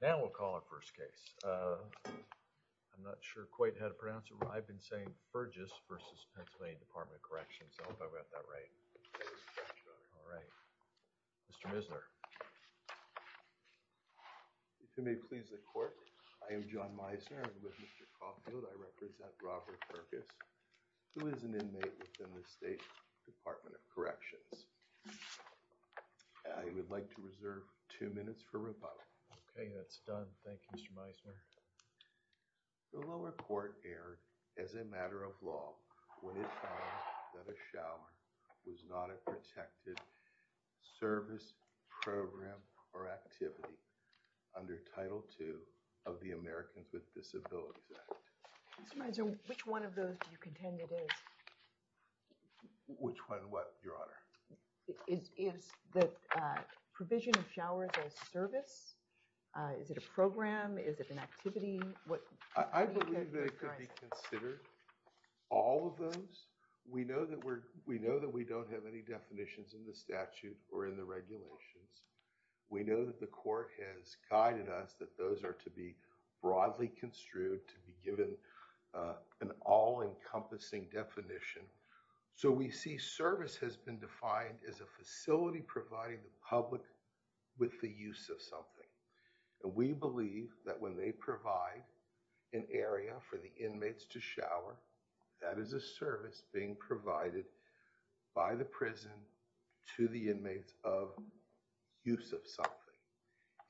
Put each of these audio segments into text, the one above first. Now we'll call our first case. Uh, I'm not sure quite how to pronounce it. I've been saying Furgess v. PA Dept of Corrections. I hope I got that right. All right. Mr. Misner. If you may please the court. I am John Misner. I'm with Mr. Caulfield. I represent Robert Fergus who is an inmate within the State Department of Corrections. I would like to reserve two minutes for rebuttal. Okay, that's done. Thank you, Mr. Misner. The lower court erred as a matter of law when it found that a shower was not a protected service, program, or activity under Title II of the Americans with Disabilities Act. Mr. Misner, which one of those do you contend it is? Which one what, Your Honor? Is the provision of showers a service? Is it a program? Is it an activity? I believe it could be considered all of those. We know that we don't have any definitions in the statute or in the regulations. We know that the court has guided us that those are to be broadly construed to be given an all-encompassing definition. So we see service has been defined as a facility providing the public with the use of something. And we believe that when they provide an area for the inmates to shower, that is a service being provided by the prison to the inmates of use of something.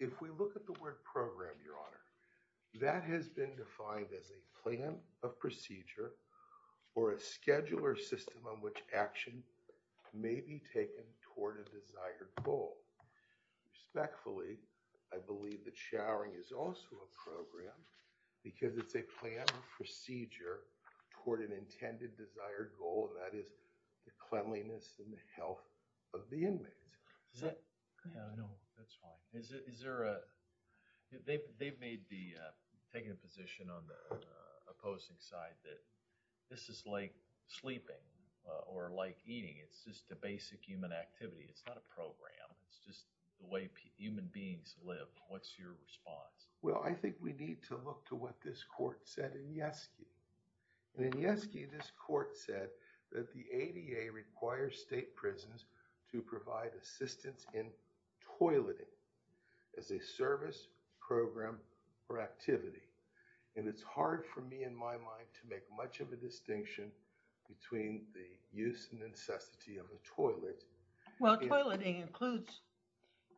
If we look at the word program, Your Honor, that has been defined as a plan of procedure or a scheduler system on which action may be taken toward a desired goal. Respectfully, I believe that showering is also a program because it's a plan of procedure toward an intended desired goal, and that is the cleanliness and the health of the inmates. Is that? Yeah, no, that's fine. Is there a, they've made the, taken a position on the opposing side that this is like sleeping or like eating. It's just a basic human activity. It's not a program. It's just the way human beings live. What's your response? Well, I think we need to look to what this court said in Yeski. And in Yeski, this court said that the ADA requires state prisons to provide assistance in toileting as a service, program, or activity. And it's hard for me in my mind to make much of a distinction between the use and necessity of a toilet. Well, toileting includes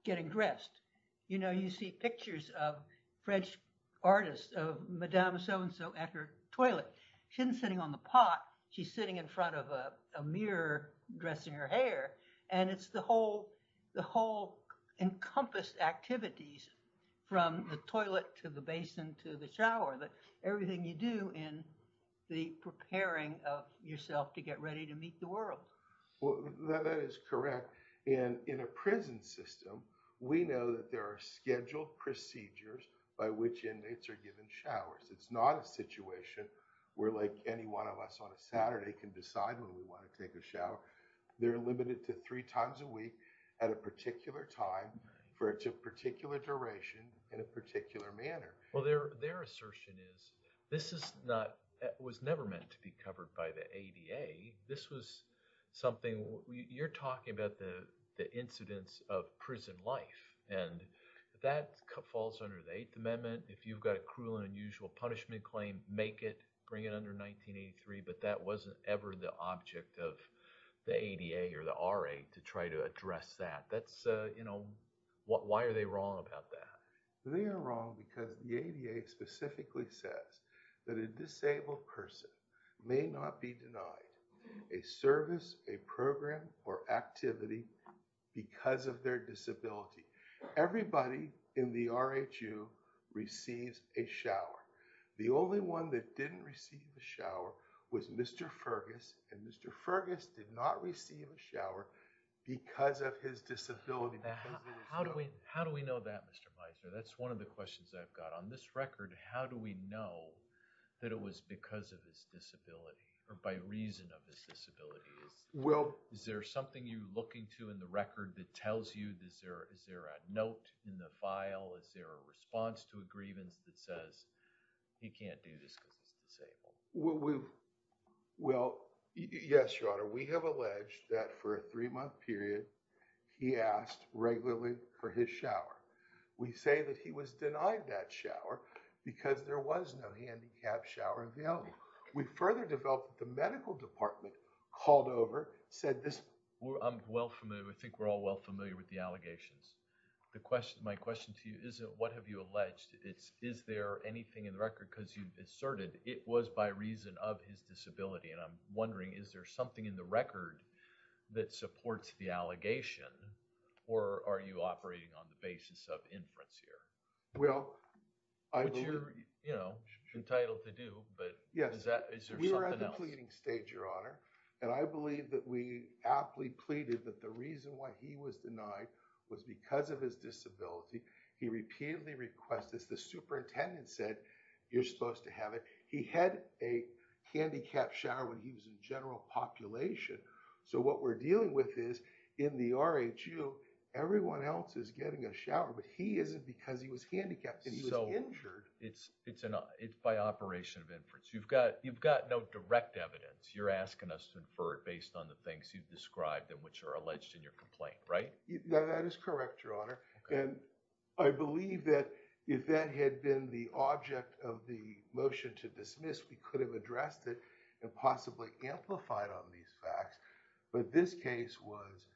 getting dressed. You know, you see pictures of French artists of Madame So-and-so at her toilet. She isn't sitting on the pot. She's sitting in front of a mirror, dressing her hair. And it's the whole, the whole encompassed activities from the toilet to the basin to the shower, that everything you do in the preparing of yourself to get ready to meet the world. Well, that is correct. And in a prison system, we know that there are scheduled procedures by which inmates are given showers. It's not a situation where like any one of us on a Saturday can decide when we want to take a shower. They're limited to three times a week at a particular time for a particular duration in a particular manner. Well, their assertion is this is not, was never meant to be covered by the ADA. This was something, you're talking about the incidents of prison life. And that falls under the Eighth Amendment. If you've got a cruel and unusual punishment claim, make it, bring it under 1983. But that wasn't ever the object of the ADA or the RA to try to address that. That's, you know, why are they wrong about that? They are wrong because the ADA specifically says that a disabled person may not be denied a service, a program, or activity because of their disability. Everybody in the RHU receives a shower. The only one that didn't receive a shower was Mr. Fergus. And Mr. Fergus did not receive a shower because of his disability. Now, how do we, how do we know that, Mr. Meiser? That's one of the questions I've got. On this record, how do we know that it was because of his disability or by reason of his disability? Is, is there something you're looking to in the record that tells you, is there, is there a note in the file? Is there a response to a grievance that says he can't do this because he's disabled? Well, we, well, yes, Your Honor. We have alleged that for a three-month period, he asked regularly for his shower. We say that he was denied that shower because there was no handicapped shower available. We further developed the medical department called over, said this, I'm well familiar, I think we're all well familiar with the allegations. The question, my question to you isn't what have you alleged? It's, is there anything in the record? Because you've asserted it was by reason of his disability. And I'm wondering, is there something in the record that supports the allegation? Or are you operating on the basis of inference here? Well, I. Which you're, you know, entitled to do, but. Yes. Is that, is there something else? We were at the pleading stage, Your Honor, and I believe that we aptly pleaded that the because of his disability, he repeatedly requests this. The superintendent said, you're supposed to have it. He had a handicapped shower when he was in general population. So what we're dealing with is in the RAQ, everyone else is getting a shower, but he isn't because he was handicapped and he was injured. It's, it's an, it's by operation of inference. You've got, you've got no direct evidence. You're asking us to infer it based on the things you've described and which are alleged in your complaint, right? No, that is correct, Your Honor. And I believe that if that had been the object of the motion to dismiss, we could have addressed it and possibly amplified on these facts. But this case was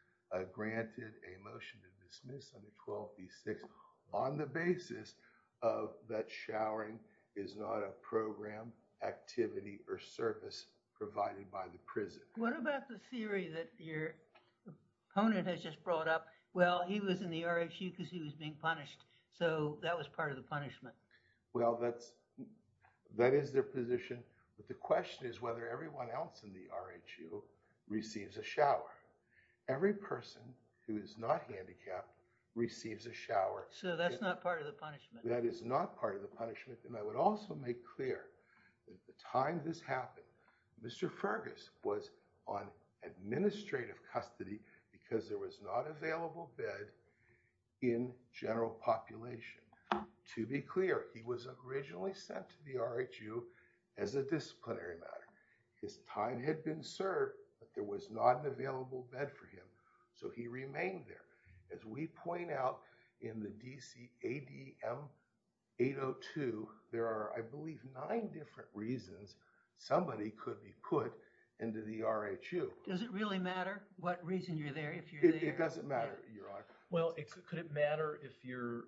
granted a motion to dismiss under 12B6 on the basis of that showering is not a program, activity, or service provided by the prison. What about the theory that your opponent has just brought up? Well, he was in the RAQ because he was being punished. So that was part of the punishment. Well, that's, that is their position. But the question is whether everyone else in the RAQ receives a shower. Every person who is not handicapped receives a shower. So that's not part of the punishment. That is not part of the punishment. And I would also make clear that the time this happened, Mr. Fergus was on administrative custody because there was not available bed in general population. To be clear, he was originally sent to the RAQ as a disciplinary matter. His time had been served, but there was not an available bed for him. So he remained there. As we point out in the DC ADM 802, there are, I believe, nine different reasons somebody could be put into the RAQ. Does it really matter what reason you're there if you're there? It doesn't matter, Your Honor. Well, could it matter if you're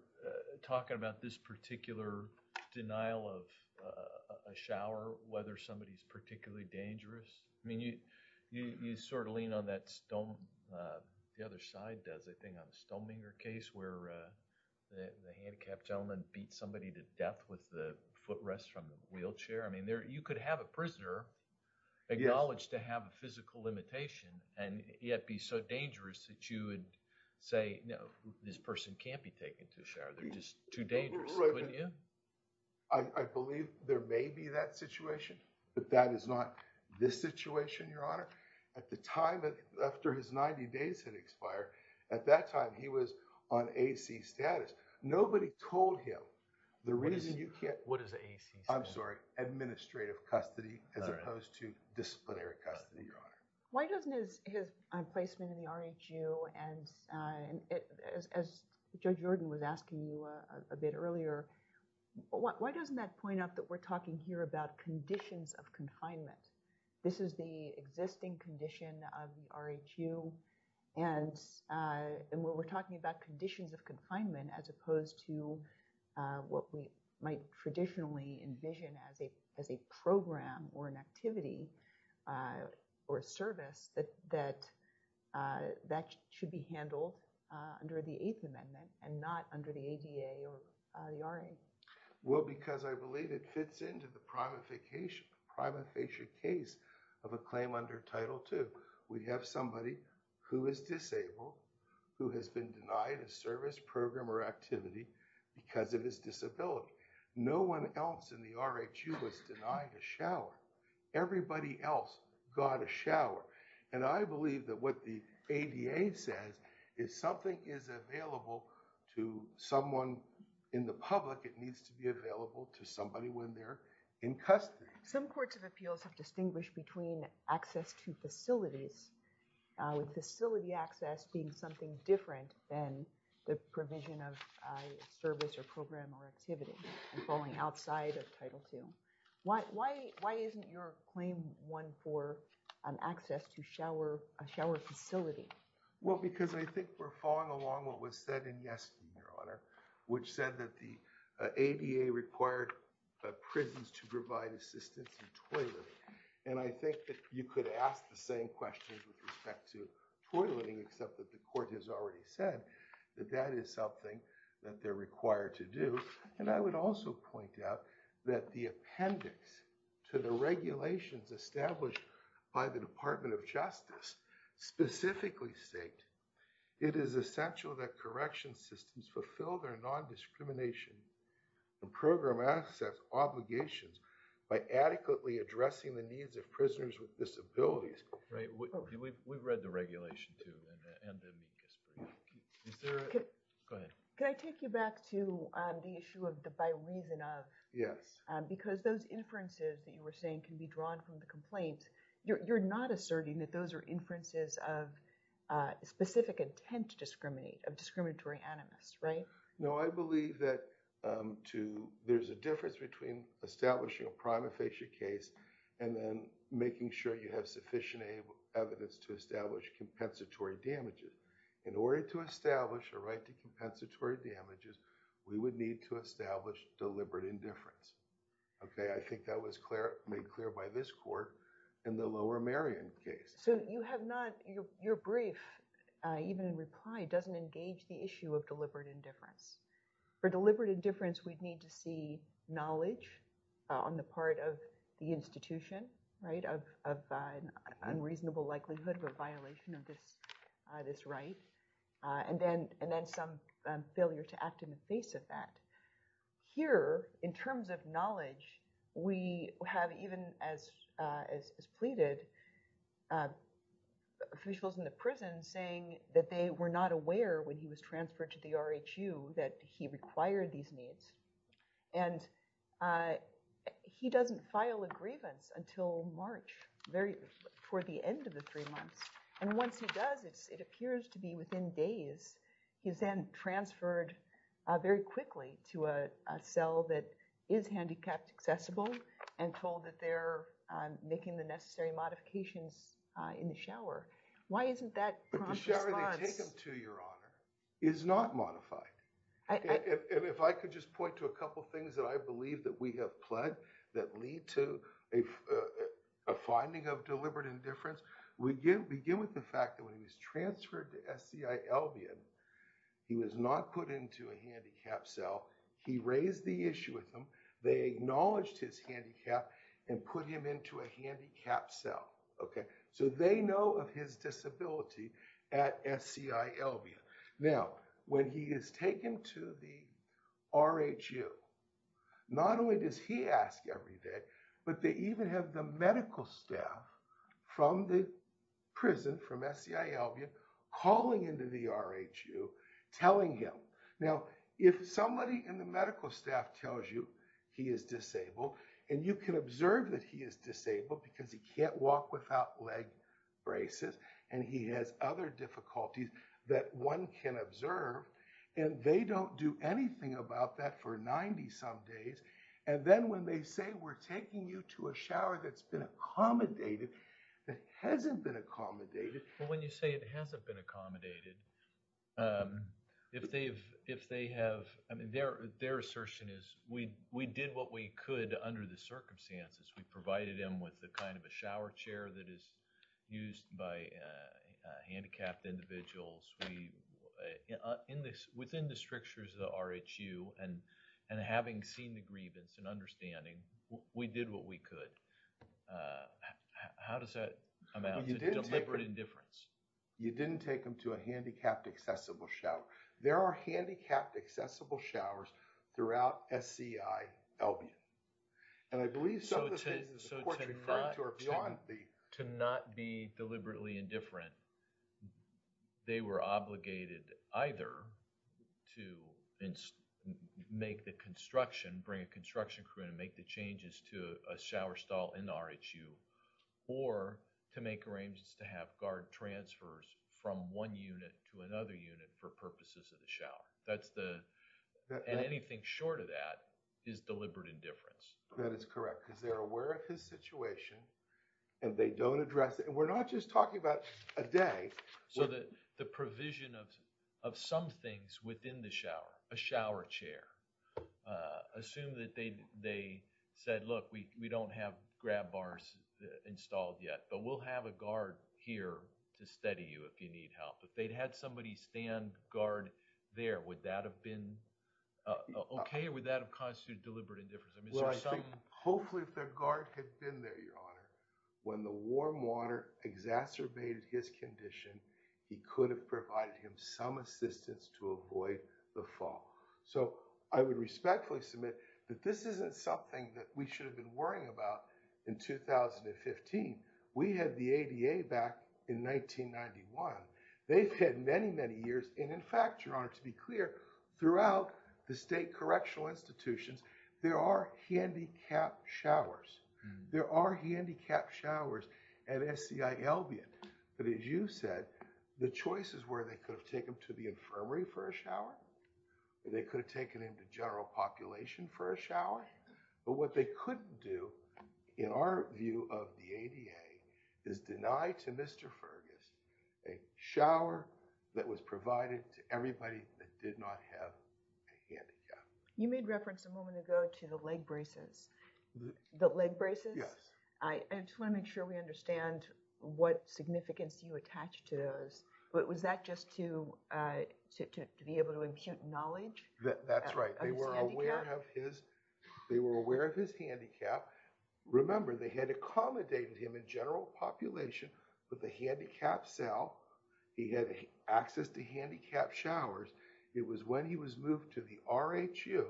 talking about this particular denial of a shower, whether somebody is particularly dangerous? I mean, you, you sort of lean on that stone, the other side does, I think on the Stoneminger case where the handicapped gentleman beat somebody to death with the footrest from the wheelchair. I mean, you could have a prisoner acknowledged to have a physical limitation and yet be so dangerous that you would say, no, this person can't be taken to a shower. They're just too dangerous, couldn't you? I believe there may be that situation, but that is not this situation, Your Honor. At the time, after his 90 days had expired, at that time, he was on AC status. Nobody told him the reason you can't... What is AC status? Administrative custody as opposed to disciplinary custody, Your Honor. Why doesn't his placement in the RHU and as Judge Jordan was asking you a bit earlier, why doesn't that point out that we're talking here about conditions of confinement? This is the existing condition of the RHU and we're talking about conditions of confinement as opposed to what we might traditionally envision as a program or an activity or a service that should be handled under the Eighth Amendment and not under the ADA or the RA. Well, because I believe it fits into the prima facie case of a claim under Title II. We have somebody who is disabled, who has been denied a service program or activity because of his disability. No one else in the RHU was denied a shower. Everybody else got a shower. And I believe that what the ADA says is something is available to someone in the public. It needs to be available to somebody when they're in custody. Some courts of appeals have distinguished between access to facilities with facility access being something different than the provision of service or program or activity and falling outside of Title II. Why isn't your claim one for access to a shower facility? Well, because I think we're following along what was said in yesterday, Your Honor, which said that the ADA required prisons to provide assistance in toileting. And I think that you could ask the same questions with respect to toileting except that the court has already said that that is something that they're required to do. And I would also point out that the appendix to the regulations established by the Department of Justice specifically state, it is essential that correction systems fulfill their non-discrimination and program access obligations by adequately addressing the needs of prisoners with disabilities. Right. We've read the regulation too. Go ahead. Can I take you back to the issue of the by reason of? Yes. Because those inferences that you were saying can be drawn from the complaints. You're not asserting that those are inferences of specific intent to discriminate, of discriminatory animus, right? No, I believe that there's a difference between establishing a prima facie case and then making sure you have sufficient evidence to establish compensatory damages. In order to establish a right to compensatory damages, we would need to establish deliberate indifference. Okay. I think that was made clear by this court in the Lower Marion case. So you have not, your brief, even in reply, doesn't engage the issue of deliberate indifference. For deliberate indifference, we'd need to see knowledge on the part of the institution, right, of unreasonable likelihood of a violation of this right. And then some failure to act in the face of that. Here, in terms of knowledge, we have even, as pleaded, officials in the prison saying that they were not aware when he was transferred to the RHU that he required these needs. And he doesn't file a grievance until March, very, toward the end of the three months. And once he does, it appears to be within days. He was then transferred very quickly to a cell that is handicapped accessible and told that they're making the necessary modifications in the shower. Why isn't that prompt response? But the shower they take him to, Your Honor, is not modified. If I could just point to a couple of things that I believe that we have pled, that lead to a finding of deliberate indifference, we begin with the fact that when he was transferred to SCI Albion, he was not put into a handicapped cell. He raised the issue with them. They acknowledged his handicap and put him into a handicapped cell. Okay, so they know of his disability at SCI Albion. Now, when he is taken to the RHU, not only does he ask every day, but they even have the medical staff from the prison, from SCI Albion, calling into the RHU, telling him. Now, if somebody in the medical staff tells you he is disabled, and you can observe that he is disabled because he can't walk without leg braces, and he has other difficulties that one can observe, and they don't do anything about that for 90 some days. And then when they say we're taking you to a shower that's been accommodated, that hasn't been accommodated. But when you say it hasn't been accommodated, if they have, I mean, their assertion is we did what we could under the circumstances. We provided him with the kind of a shower chair that is used by handicapped individuals. We, in this, within the strictures of the RHU, and having seen the grievance and understanding, we did what we could. How does that amount to deliberate indifference? You didn't take him to a handicapped accessible shower. There are handicapped accessible showers throughout SCI Albion. And I believe some of the things the court referred to are beyond the... Obligated either to make the construction, bring a construction crew and make the changes to a shower stall in the RHU, or to make arrangements to have guard transfers from one unit to another unit for purposes of the shower. That's the... And anything short of that is deliberate indifference. That is correct because they're aware of his situation and they don't address it. And we're not just talking about a day. So the provision of some things within the shower, a shower chair, assume that they said, look, we don't have grab bars installed yet, but we'll have a guard here to steady you if you need help. If they'd had somebody stand guard there, would that have been okay? Or would that have constituted deliberate indifference? I mean, so some... Hopefully, if their guard had been there, Your Honor, when the warm water exacerbated his condition, he could have provided him some assistance to avoid the fall. So I would respectfully submit that this isn't something that we should have been worrying about in 2015. We had the ADA back in 1991. They've had many, many years. And in fact, Your Honor, to be clear, throughout the state correctional institutions, there are handicapped showers. There are handicapped showers at SCI Albion. But as you said, the choices were, they could have taken him to the infirmary for a shower, or they could have taken him to general population for a shower. But what they couldn't do, in our view of the ADA, is deny to Mr. Fergus a shower that was provided to everybody that did not have a handicap. You made reference a moment ago to the leg braces. The leg braces? Yes. I just want to make sure we understand what significance you attach to those. But was that just to be able to impute knowledge? That's right. They were aware of his handicap. Remember, they had accommodated him in general population with a handicapped cell. He had access to handicapped showers. It was when he was moved to the R.H.U.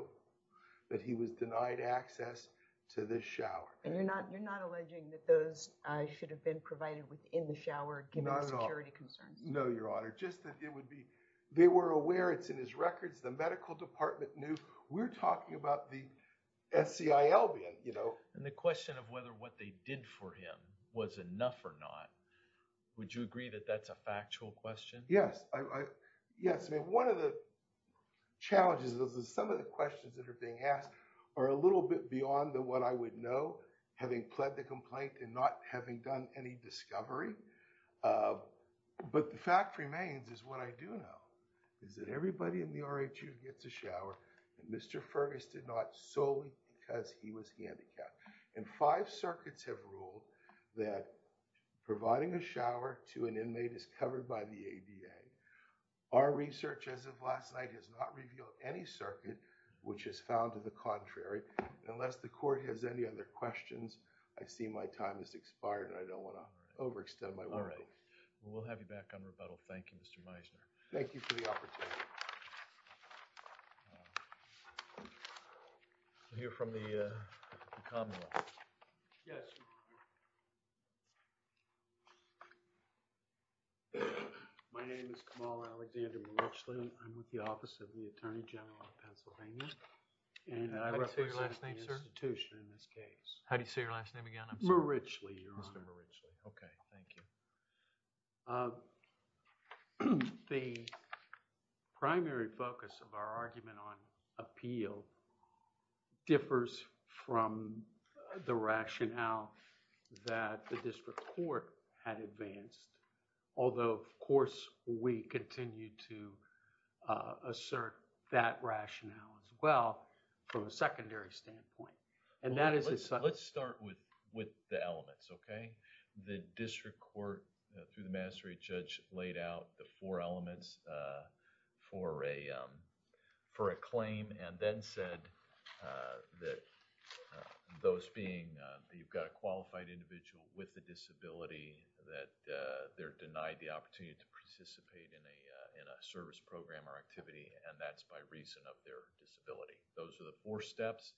that he was denied access to this shower. And you're not alleging that those should have been provided within the shower, given the security concerns? No, Your Honor. Just that it would be, they were aware. It's in his records. The medical department knew. We're talking about the SCI Albion, you know. And the question of whether what they did for him was enough or not, would you agree that that's a factual question? Yes. Yes. I mean, one of the challenges is that some of the questions that are being asked are a little bit beyond what I would know, having pled the complaint and not having done any discovery. But the fact remains is what I do know, is that everybody in the R.H.U. gets a shower, and Mr. Fergus did not solely because he was handicapped. And five circuits have ruled that providing a shower to an inmate is covered by the ADA. Our research, as of last night, has not revealed any circuit which is found to the contrary. Unless the court has any other questions, I see my time has expired and I don't want to overextend my welcome. All right. We'll have you back on rebuttal. Thank you, Mr. Meisner. Thank you for the opportunity. We'll hear from the, uh, the Commonwealth. Yes. My name is Kamal Alexander Marichli. I'm with the Office of the Attorney General of Pennsylvania. And I represent the institution in this case. How do you say your last name again? I'm sorry. Marichli, Your Honor. Mr. Marichli. Thank you. Uh, the primary focus of our argument on appeal differs from the rationale that the district court had advanced. Although, of course, we continue to, uh, assert that rationale as well from a secondary standpoint. And that is... Let's start with, with the elements, okay? The district court, through the magistrate judge, laid out the four elements, uh, for a, um, for a claim and then said, uh, that, uh, those being, uh, that you've got a qualified individual with a disability that, uh, they're denied the opportunity to participate in a, uh, in a service program or activity and that's by reason of their disability. Those are the four steps.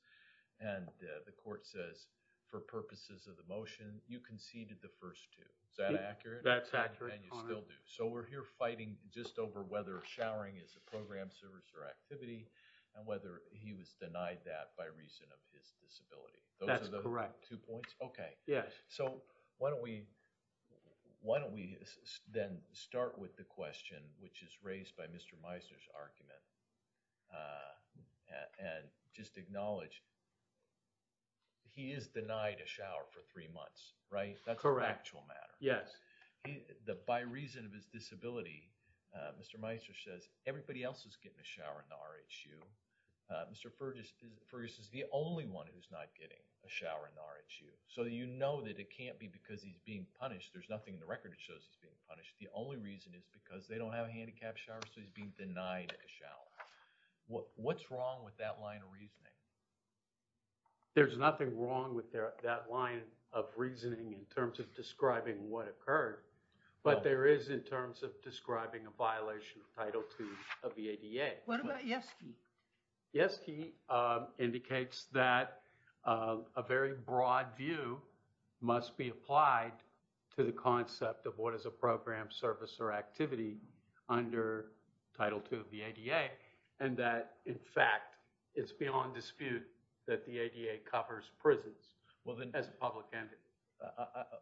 And, uh, the court says for purposes of the motion, you conceded the first two. Is that accurate? That's accurate, Your Honor. And you still do. So, we're here fighting just over whether showering is a program, service or activity and whether he was denied that by reason of his disability. That's correct. Two points? Okay. Yes. So, why don't we, why don't we then start with the question which is raised by Mr. Meisner's argument, uh, and just acknowledge he is denied a shower for three months, right? That's an actual matter. Yes. By reason of his disability, uh, Mr. Meisner says everybody else is getting a shower in the RHU. Uh, Mr. Fergus is the only one who's not getting a shower in the RHU. So, you know that it can't be because he's being punished. There's nothing in the record that shows he's being punished. The only reason is because they don't have a handicap shower so he's being denied a shower. What, what's wrong with that line of reasoning? There's nothing wrong with that line of reasoning in terms of describing what occurred, but there is in terms of describing a violation of Title II of the ADA. What about Yeske? Yeske, uh, indicates that, uh, a very broad view must be applied to the concept of what is a program, service, or activity under Title II of the ADA and that, in fact, it's beyond dispute that the ADA covers prisons as a public entity.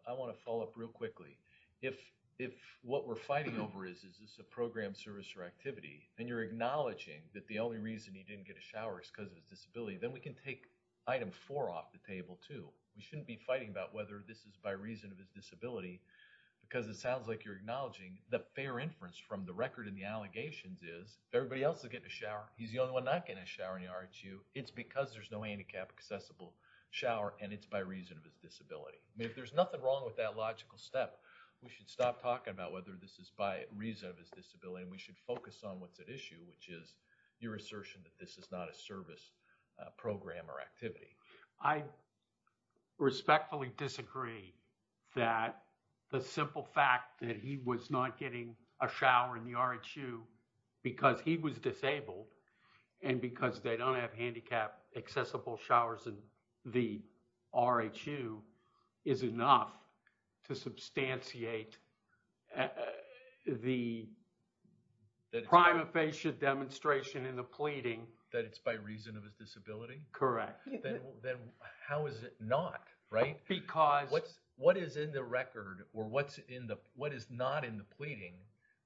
I want to follow up real quickly. If, if what we're fighting over is, is this a program, service, or activity and you're acknowledging that the only reason he didn't get a shower is because of his disability, then we can take Item 4 off the table too. We shouldn't be fighting about whether this is by reason of his disability because it sounds like you're acknowledging the fair inference from the record and the allegations is everybody else is getting a shower. He's the only one not getting a shower in the RHU. It's because there's no handicap accessible shower and it's by reason of his disability. There's nothing wrong with that logical step. We should stop talking about whether this is by reason of his disability and we should focus on what's at issue which is your assertion that this is not a service, uh, program or activity. I respectfully disagree that the simple fact that he was not getting a shower in the RHU because he was disabled and because they don't have handicap accessible showers in the RHU is enough to substantiate the prima facie demonstration in the pleading. That it's by reason of his disability? Correct. Then, then how is it not, right? Because. What's, what is in the record or what's in the, what is not in the pleading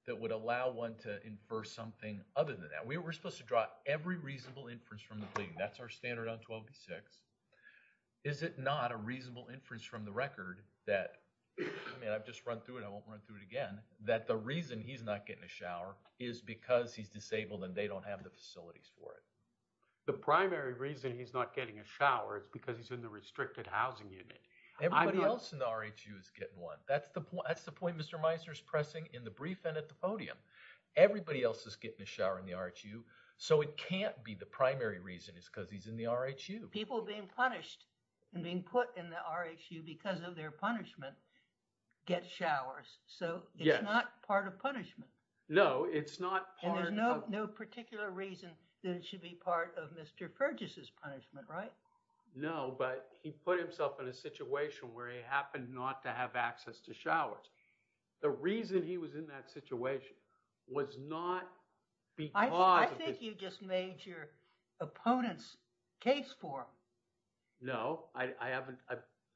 that would allow one to infer something other than that? We were supposed to draw every reasonable inference from the pleading. That's our standard on 12B6. Is it not a reasonable inference from the record that, I mean, I've just run through it. I won't run through it again, that the reason he's not getting a shower is because he's disabled and they don't have the facilities for it. The primary reason he's not getting a shower is because he's in the restricted housing unit. Everybody else in the RHU is getting one. That's the point. That's the point Mr. Meisner is pressing in the brief and at the podium. Everybody else is getting a shower in the RHU. So, it can't be the primary reason is because he's in the RHU. People being punished and being put in the RHU because of their punishment get showers. So, it's not part of punishment. No, it's not part of. And there's no particular reason that it should be part of Mr. Fergus' punishment, right? No, but he put himself in a situation where he happened not to have access to showers. The reason he was in that situation was not because... I think you just made your opponent's case for him. No, I haven't.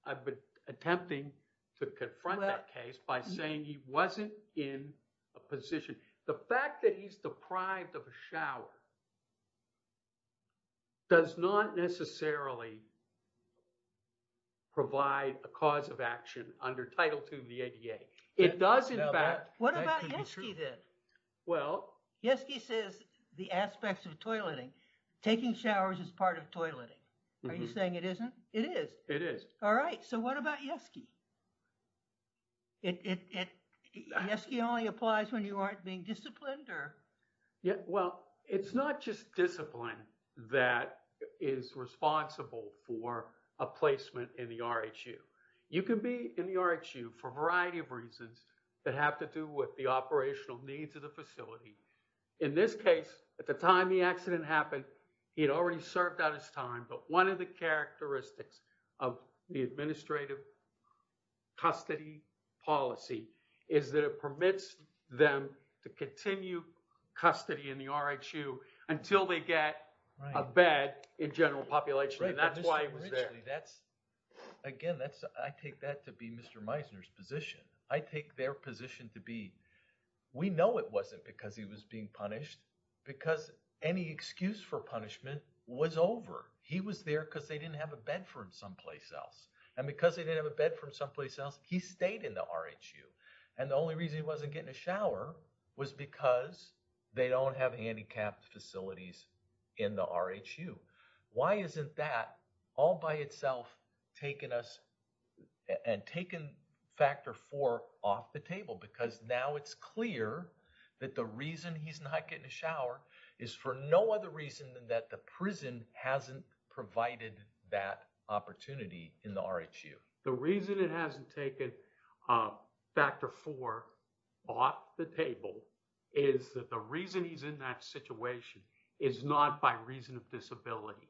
I've been attempting to confront that case by saying he wasn't in a position. The fact that he's deprived of a shower does not necessarily provide a cause of It does in fact... What about Yeske then? Well... Yeske says the aspects of toileting. Taking showers is part of toileting. Are you saying it isn't? It is. It is. All right. So, what about Yeske? Yeske only applies when you aren't being disciplined or... Well, it's not just discipline that is responsible for a placement in the RHU. You can be in the RHU for a variety of reasons that have to do with the operational needs of the facility. In this case, at the time the accident happened, he had already served out his time. But one of the characteristics of the administrative custody policy is that it permits them to continue custody in the RHU until they get a bed in general population. And that's why he was there. That's... Again, that's... I take that to be Mr. Meissner's position. I take their position to be... We know it wasn't because he was being punished because any excuse for punishment was over. He was there because they didn't have a bed for him someplace else. And because they didn't have a bed for him someplace else, he stayed in the RHU. And the only reason he wasn't getting a shower was because they don't have handicapped facilities in the RHU. Why isn't that all by itself taking us and taking Factor 4 off the table? Because now it's clear that the reason he's not getting a shower is for no other reason than that the prison hasn't provided that opportunity in the RHU. The reason it hasn't taken Factor 4 off the table is that the reason he's in that situation is not by reason of disability.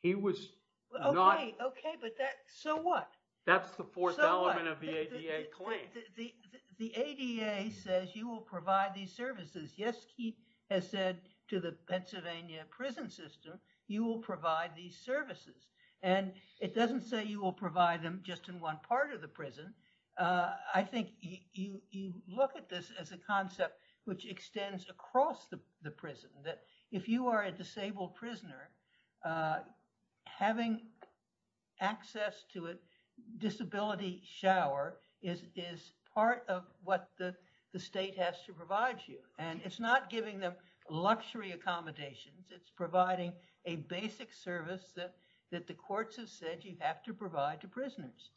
He was not... Okay, okay. But that... So what? That's the fourth element of the ADA claim. The ADA says you will provide these services. Yes, he has said to the Pennsylvania prison system, you will provide these services. And it doesn't say you will provide them just in one part of the prison. I think you look at this as a concept which extends across the prison. That if you are a disabled prisoner, having access to a disability shower is part of what the state has to provide you. And it's not giving them luxury accommodations. It's providing a basic service that the courts have said you have to provide to prisoners.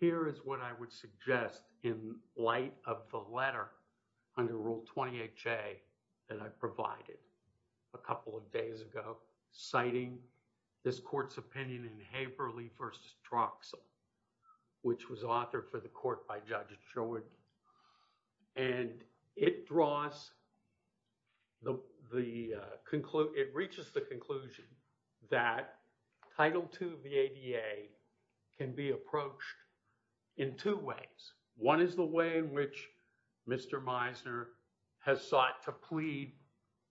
Here is what I would suggest in light of the letter under Rule 20HA that I provided a couple of days ago citing this court's opinion in Haverly v. Troxell which was authored for the court by Judge Sherwood. And it draws... It reaches the conclusion that Title II of the ADA can be approached in two ways. One is the way in which Mr. Meisner has sought to plead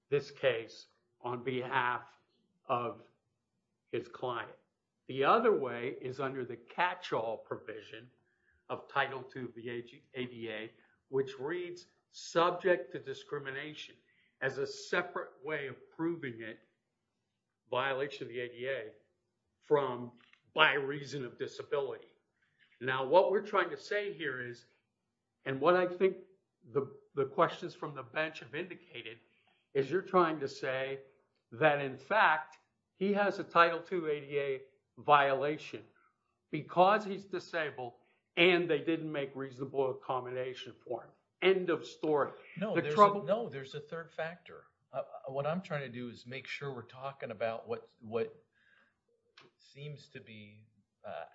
this case on behalf of his client. The other way is under the catch-all provision of Title II of the ADA which reads subject to discrimination as a separate way of proving it, violation of the ADA, from by reason of disability. Now what we're trying to say here is, and what I think the questions from the bench have indicated, is you're trying to say that in fact he has a Title II of the ADA violation because he's disabled and they didn't make reasonable accommodation for him. End of story. No, there's a third factor. What I'm trying to do is make sure we're talking about what seems to be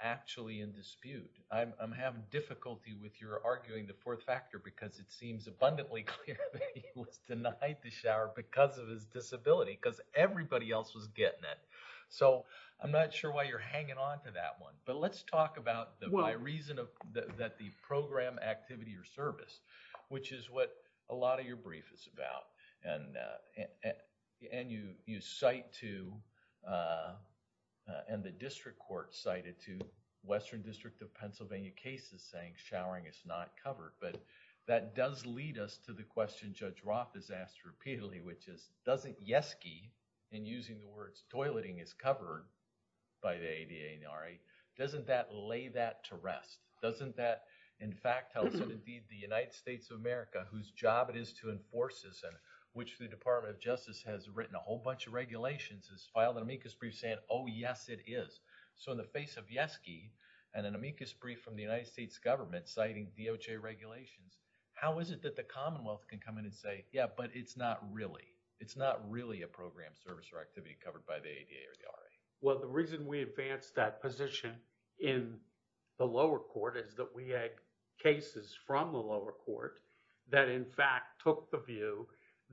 actually in dispute. I'm having difficulty with your arguing the fourth factor because it seems abundantly clear he was denied the shower because of his disability because everybody else was getting it. So I'm not sure why you're hanging on to that one. But let's talk about the by reason that the program, activity, or service, which is what a lot of your brief is about. And you cite to... And the district court cited to Western District of Pennsylvania cases saying it's not covered. But that does lead us to the question Judge Roth has asked repeatedly, which is, doesn't YESGI, and using the words toileting is covered by the ADA and the RA, doesn't that lay that to rest? Doesn't that, in fact, tell us that indeed the United States of America, whose job it is to enforce this and which the Department of Justice has written a whole bunch of regulations, has filed an amicus brief saying, oh yes, it is. So in the face of YESGI and an amicus brief from the United States government citing DOJ regulations, how is it that the commonwealth can come in and say, yeah, but it's not really. It's not really a program, service, or activity covered by the ADA or the RA. Well, the reason we advanced that position in the lower court is that we had cases from the lower court that, in fact, took the view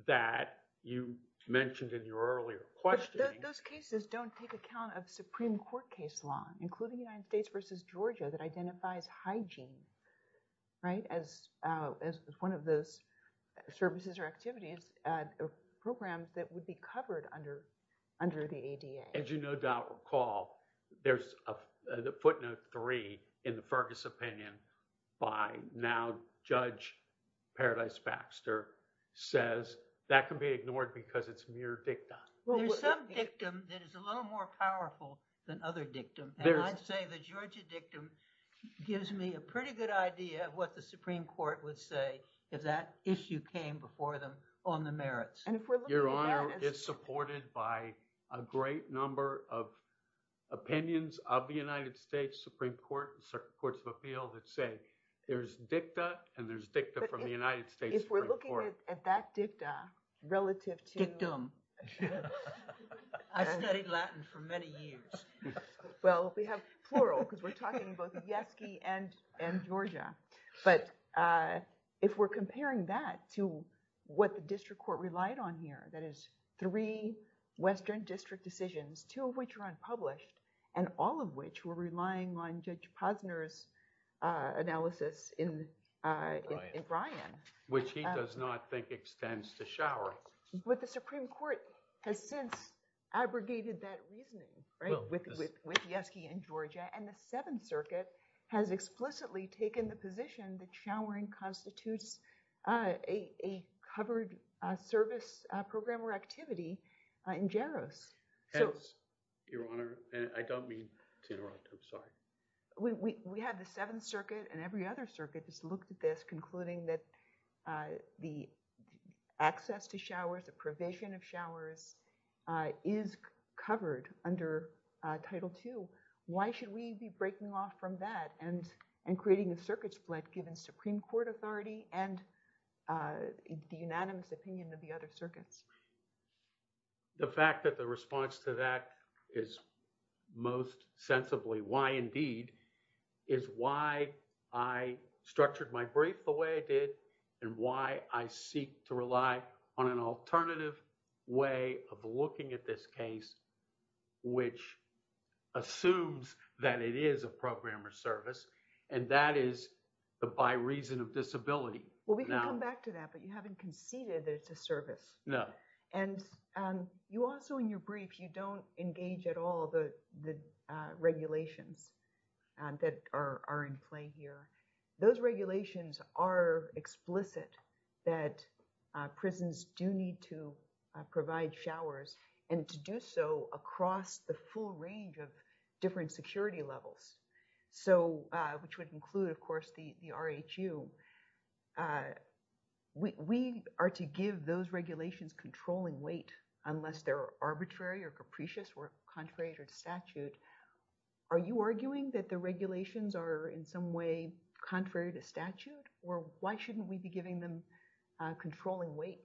that you mentioned in your earlier question. Those cases don't take account of Supreme Court case law, including United States versus Georgia that identifies hygiene as one of those services or activities or programs that would be covered under the ADA. As you no doubt recall, there's a footnote three in the Fergus opinion by now Judge Paradise Baxter says that can be ignored because it's mere dicta. There's some dictum that is a little more powerful than other dictum. And I'd say the Georgia dictum gives me a pretty good idea of what the Supreme Court would say if that issue came before them on the merits. And if we're looking at- Your Honor, it's supported by a great number of opinions of the United States Supreme Court, courts of appeal that say there's dicta and there's dicta from the United States Supreme Court. If we're looking at that dicta relative to- Dictum. I studied Latin for many years. Well, we have plural because we're talking about both Yeski and Georgia. But if we're comparing that to what the district court relied on here, that is three Western district decisions, two of which are unpublished, and all of which were relying on Judge Posner's analysis in Bryan. Which he does not think extends to Showery. But the Supreme Court has since abrogated that reasoning with Yeski and Georgia. And the Seventh Circuit has explicitly taken the position that showering constitutes a covered service program or activity in Jaros. Your Honor, I don't mean to interrupt. I'm sorry. We had the Seventh Circuit and every other circuit that's looked at this, the access to showers, the provision of showers is covered under Title II. Why should we be breaking off from that and creating a circuit split given Supreme Court authority and the unanimous opinion of the other circuits? The fact that the response to that is most sensibly why indeed is why I structured my brief the way I did and why I seek to rely on an alternative way of looking at this case, which assumes that it is a program or service. And that is the by reason of disability. Well, we can come back to that, but you haven't conceded that it's a service. No. And you also in your brief, you don't engage at all the regulations. That are in play here. Those regulations are explicit that prisons do need to provide showers and to do so across the full range of different security levels. So, which would include, of course, the RHU. We are to give those regulations controlling weight unless they're arbitrary or capricious or contrary to statute. Are you arguing that the regulations are in some way contrary to statute? Or why shouldn't we be giving them controlling weight?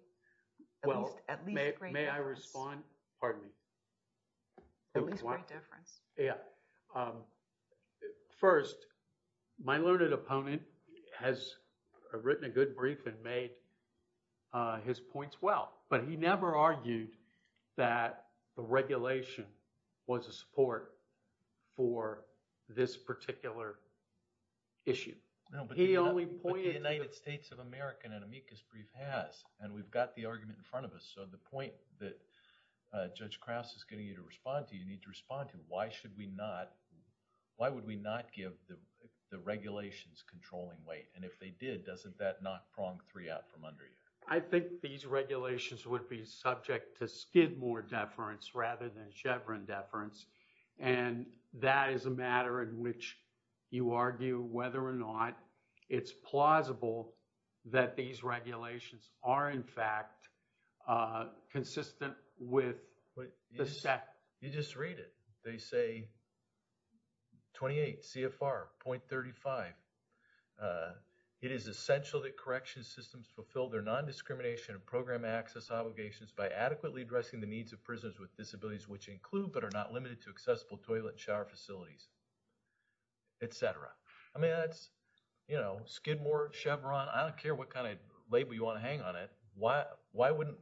Well, may I respond? Pardon me. At least great difference. Yeah. First, my learned opponent has written a good brief and made his points well, but he never argued that the regulation was a support for this particular issue. No, but the United States of America in an amicus brief has and we've got the argument in front of us. So the point that Judge Krauss is getting you to respond to, you need to respond to, why should we not, why would we not give the regulations controlling weight? And if they did, doesn't that knock prong three out from under you? I think these regulations would be subject to Skidmore deference rather than Chevron deference. And that is a matter in which you argue whether or not it's plausible that these regulations are in fact consistent with the SEC. You just read it. They say 28 CFR 0.35. It is essential that correction systems fulfill their non-discrimination and program access obligations by adequately addressing the needs of prisoners with disabilities, which include, but are not limited to accessible toilet and shower facilities, etc. I mean, that's, you know, Skidmore, Chevron, I don't care what kind of label you want to hang on it. Why wouldn't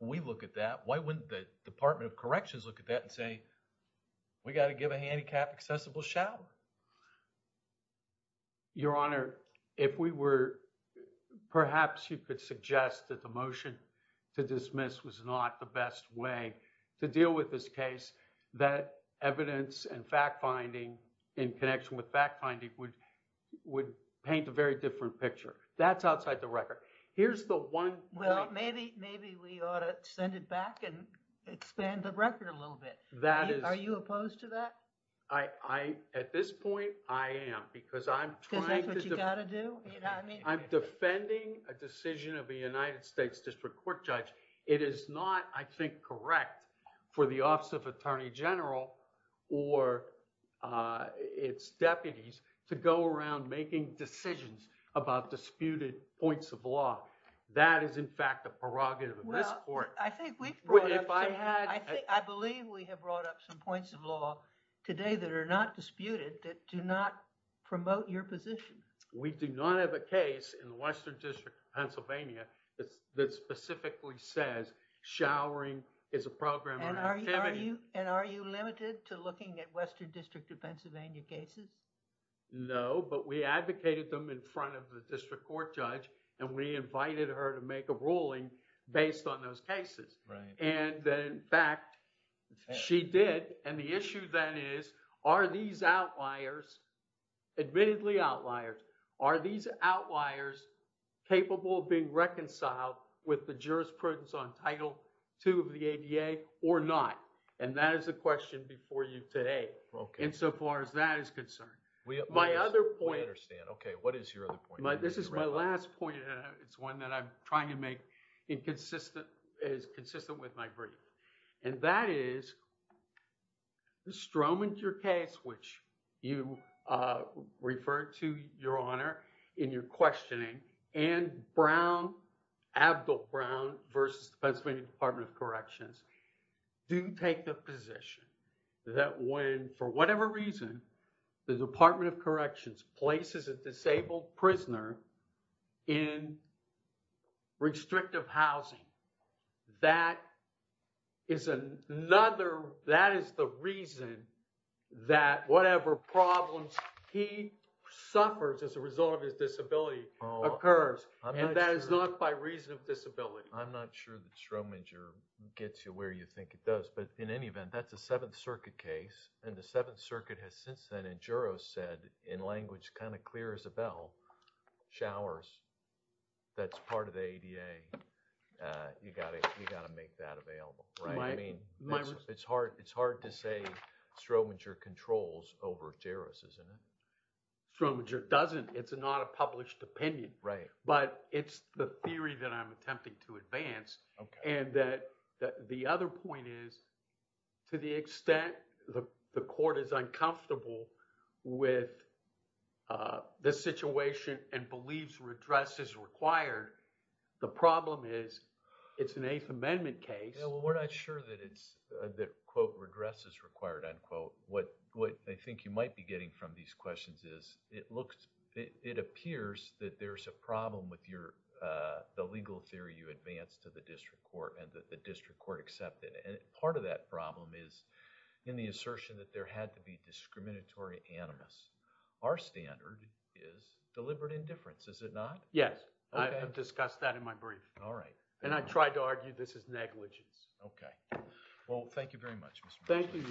we look at that? Why wouldn't the Department of Corrections look at that and say, we got to give a handicapped accessible shower? Your Honor, if we were, perhaps you could suggest that the motion to dismiss was not the best way to deal with this case, that evidence and fact-finding in connection with fact-finding would paint a very different picture. That's outside the record. Here's the one. Well, maybe we ought to send it back and expand the record a little bit. That is. Are you opposed to that? I, at this point, I am. Because I'm trying to... Is that what you got to do? I'm defending a decision of the United States District Court judge. It is not, I think, correct for the Office of Attorney General or its deputies to go around making decisions about disputed points of law. That is, in fact, the prerogative of this court. I think we've brought up... If I had... I believe we have brought up some points of law today that are not disputed that do not promote your position. We do not have a case in the Western District of Pennsylvania that specifically says showering is a program of activity. And are you limited to looking at Western District of Pennsylvania cases? No, but we advocated them in front of the district court judge and we invited her to make a ruling based on those cases. Right. And then, in fact, she did. And the issue then is, are these outliers, admittedly outliers, are these outliers capable of being reconciled with the jurisprudence on Title II of the ADA or not? And that is the question before you today. Okay. Insofar as that is concerned. My other point... I understand. Okay. What is your other point? This is my last point. It's one that I'm trying to make as consistent with my brief. And that is the Stromanter case, which you referred to, Your Honor, in your questioning, and Brown, Abdul Brown versus the Pennsylvania Department of Corrections do take the position that when, for whatever reason, the Department of Corrections places a disabled prisoner in restrictive housing, that is another, that is the reason that whatever problems he suffers as a result of his disability occurs. And that is not by reason of disability. I'm not sure that Stromanter gets you where you think it does. But in any event, that's a Seventh Circuit case. And the Seventh Circuit has since then in jurors said, in language kind of clear as a bell, showers, that's part of the ADA. You got to make that available, right? I mean, it's hard to say Stromanter controls over jurors, isn't it? Stromanter doesn't. It's not a published opinion. Right. But it's the theory that I'm attempting to advance. Okay. The other point is, to the extent the court is uncomfortable with this situation and believes redress is required, the problem is it's an Eighth Amendment case. Yeah, well, we're not sure that it's, quote, redress is required, unquote. What I think you might be getting from these questions is it looks, it appears that there's a problem with your, the legal theory you advanced to the district court and that the district court accepted. And part of that problem is in the assertion that there had to be discriminatory animus. Our standard is deliberate indifference, is it not? Yes. I have discussed that in my brief. All right. And I tried to argue this is negligence. Okay. Well, thank you very much, Mr. Meisner. Thank you,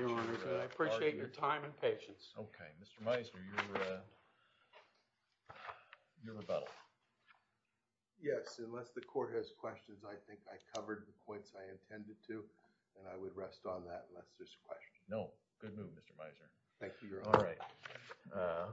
Your Honor. I appreciate your time and patience. Okay. Mr. Meisner, your rebuttal. Yes, unless the court has questions, I think I covered the points I intended to, and I would rest on that unless there's a question. No. Good move, Mr. Meisner. Thank you, Your Honor. All right.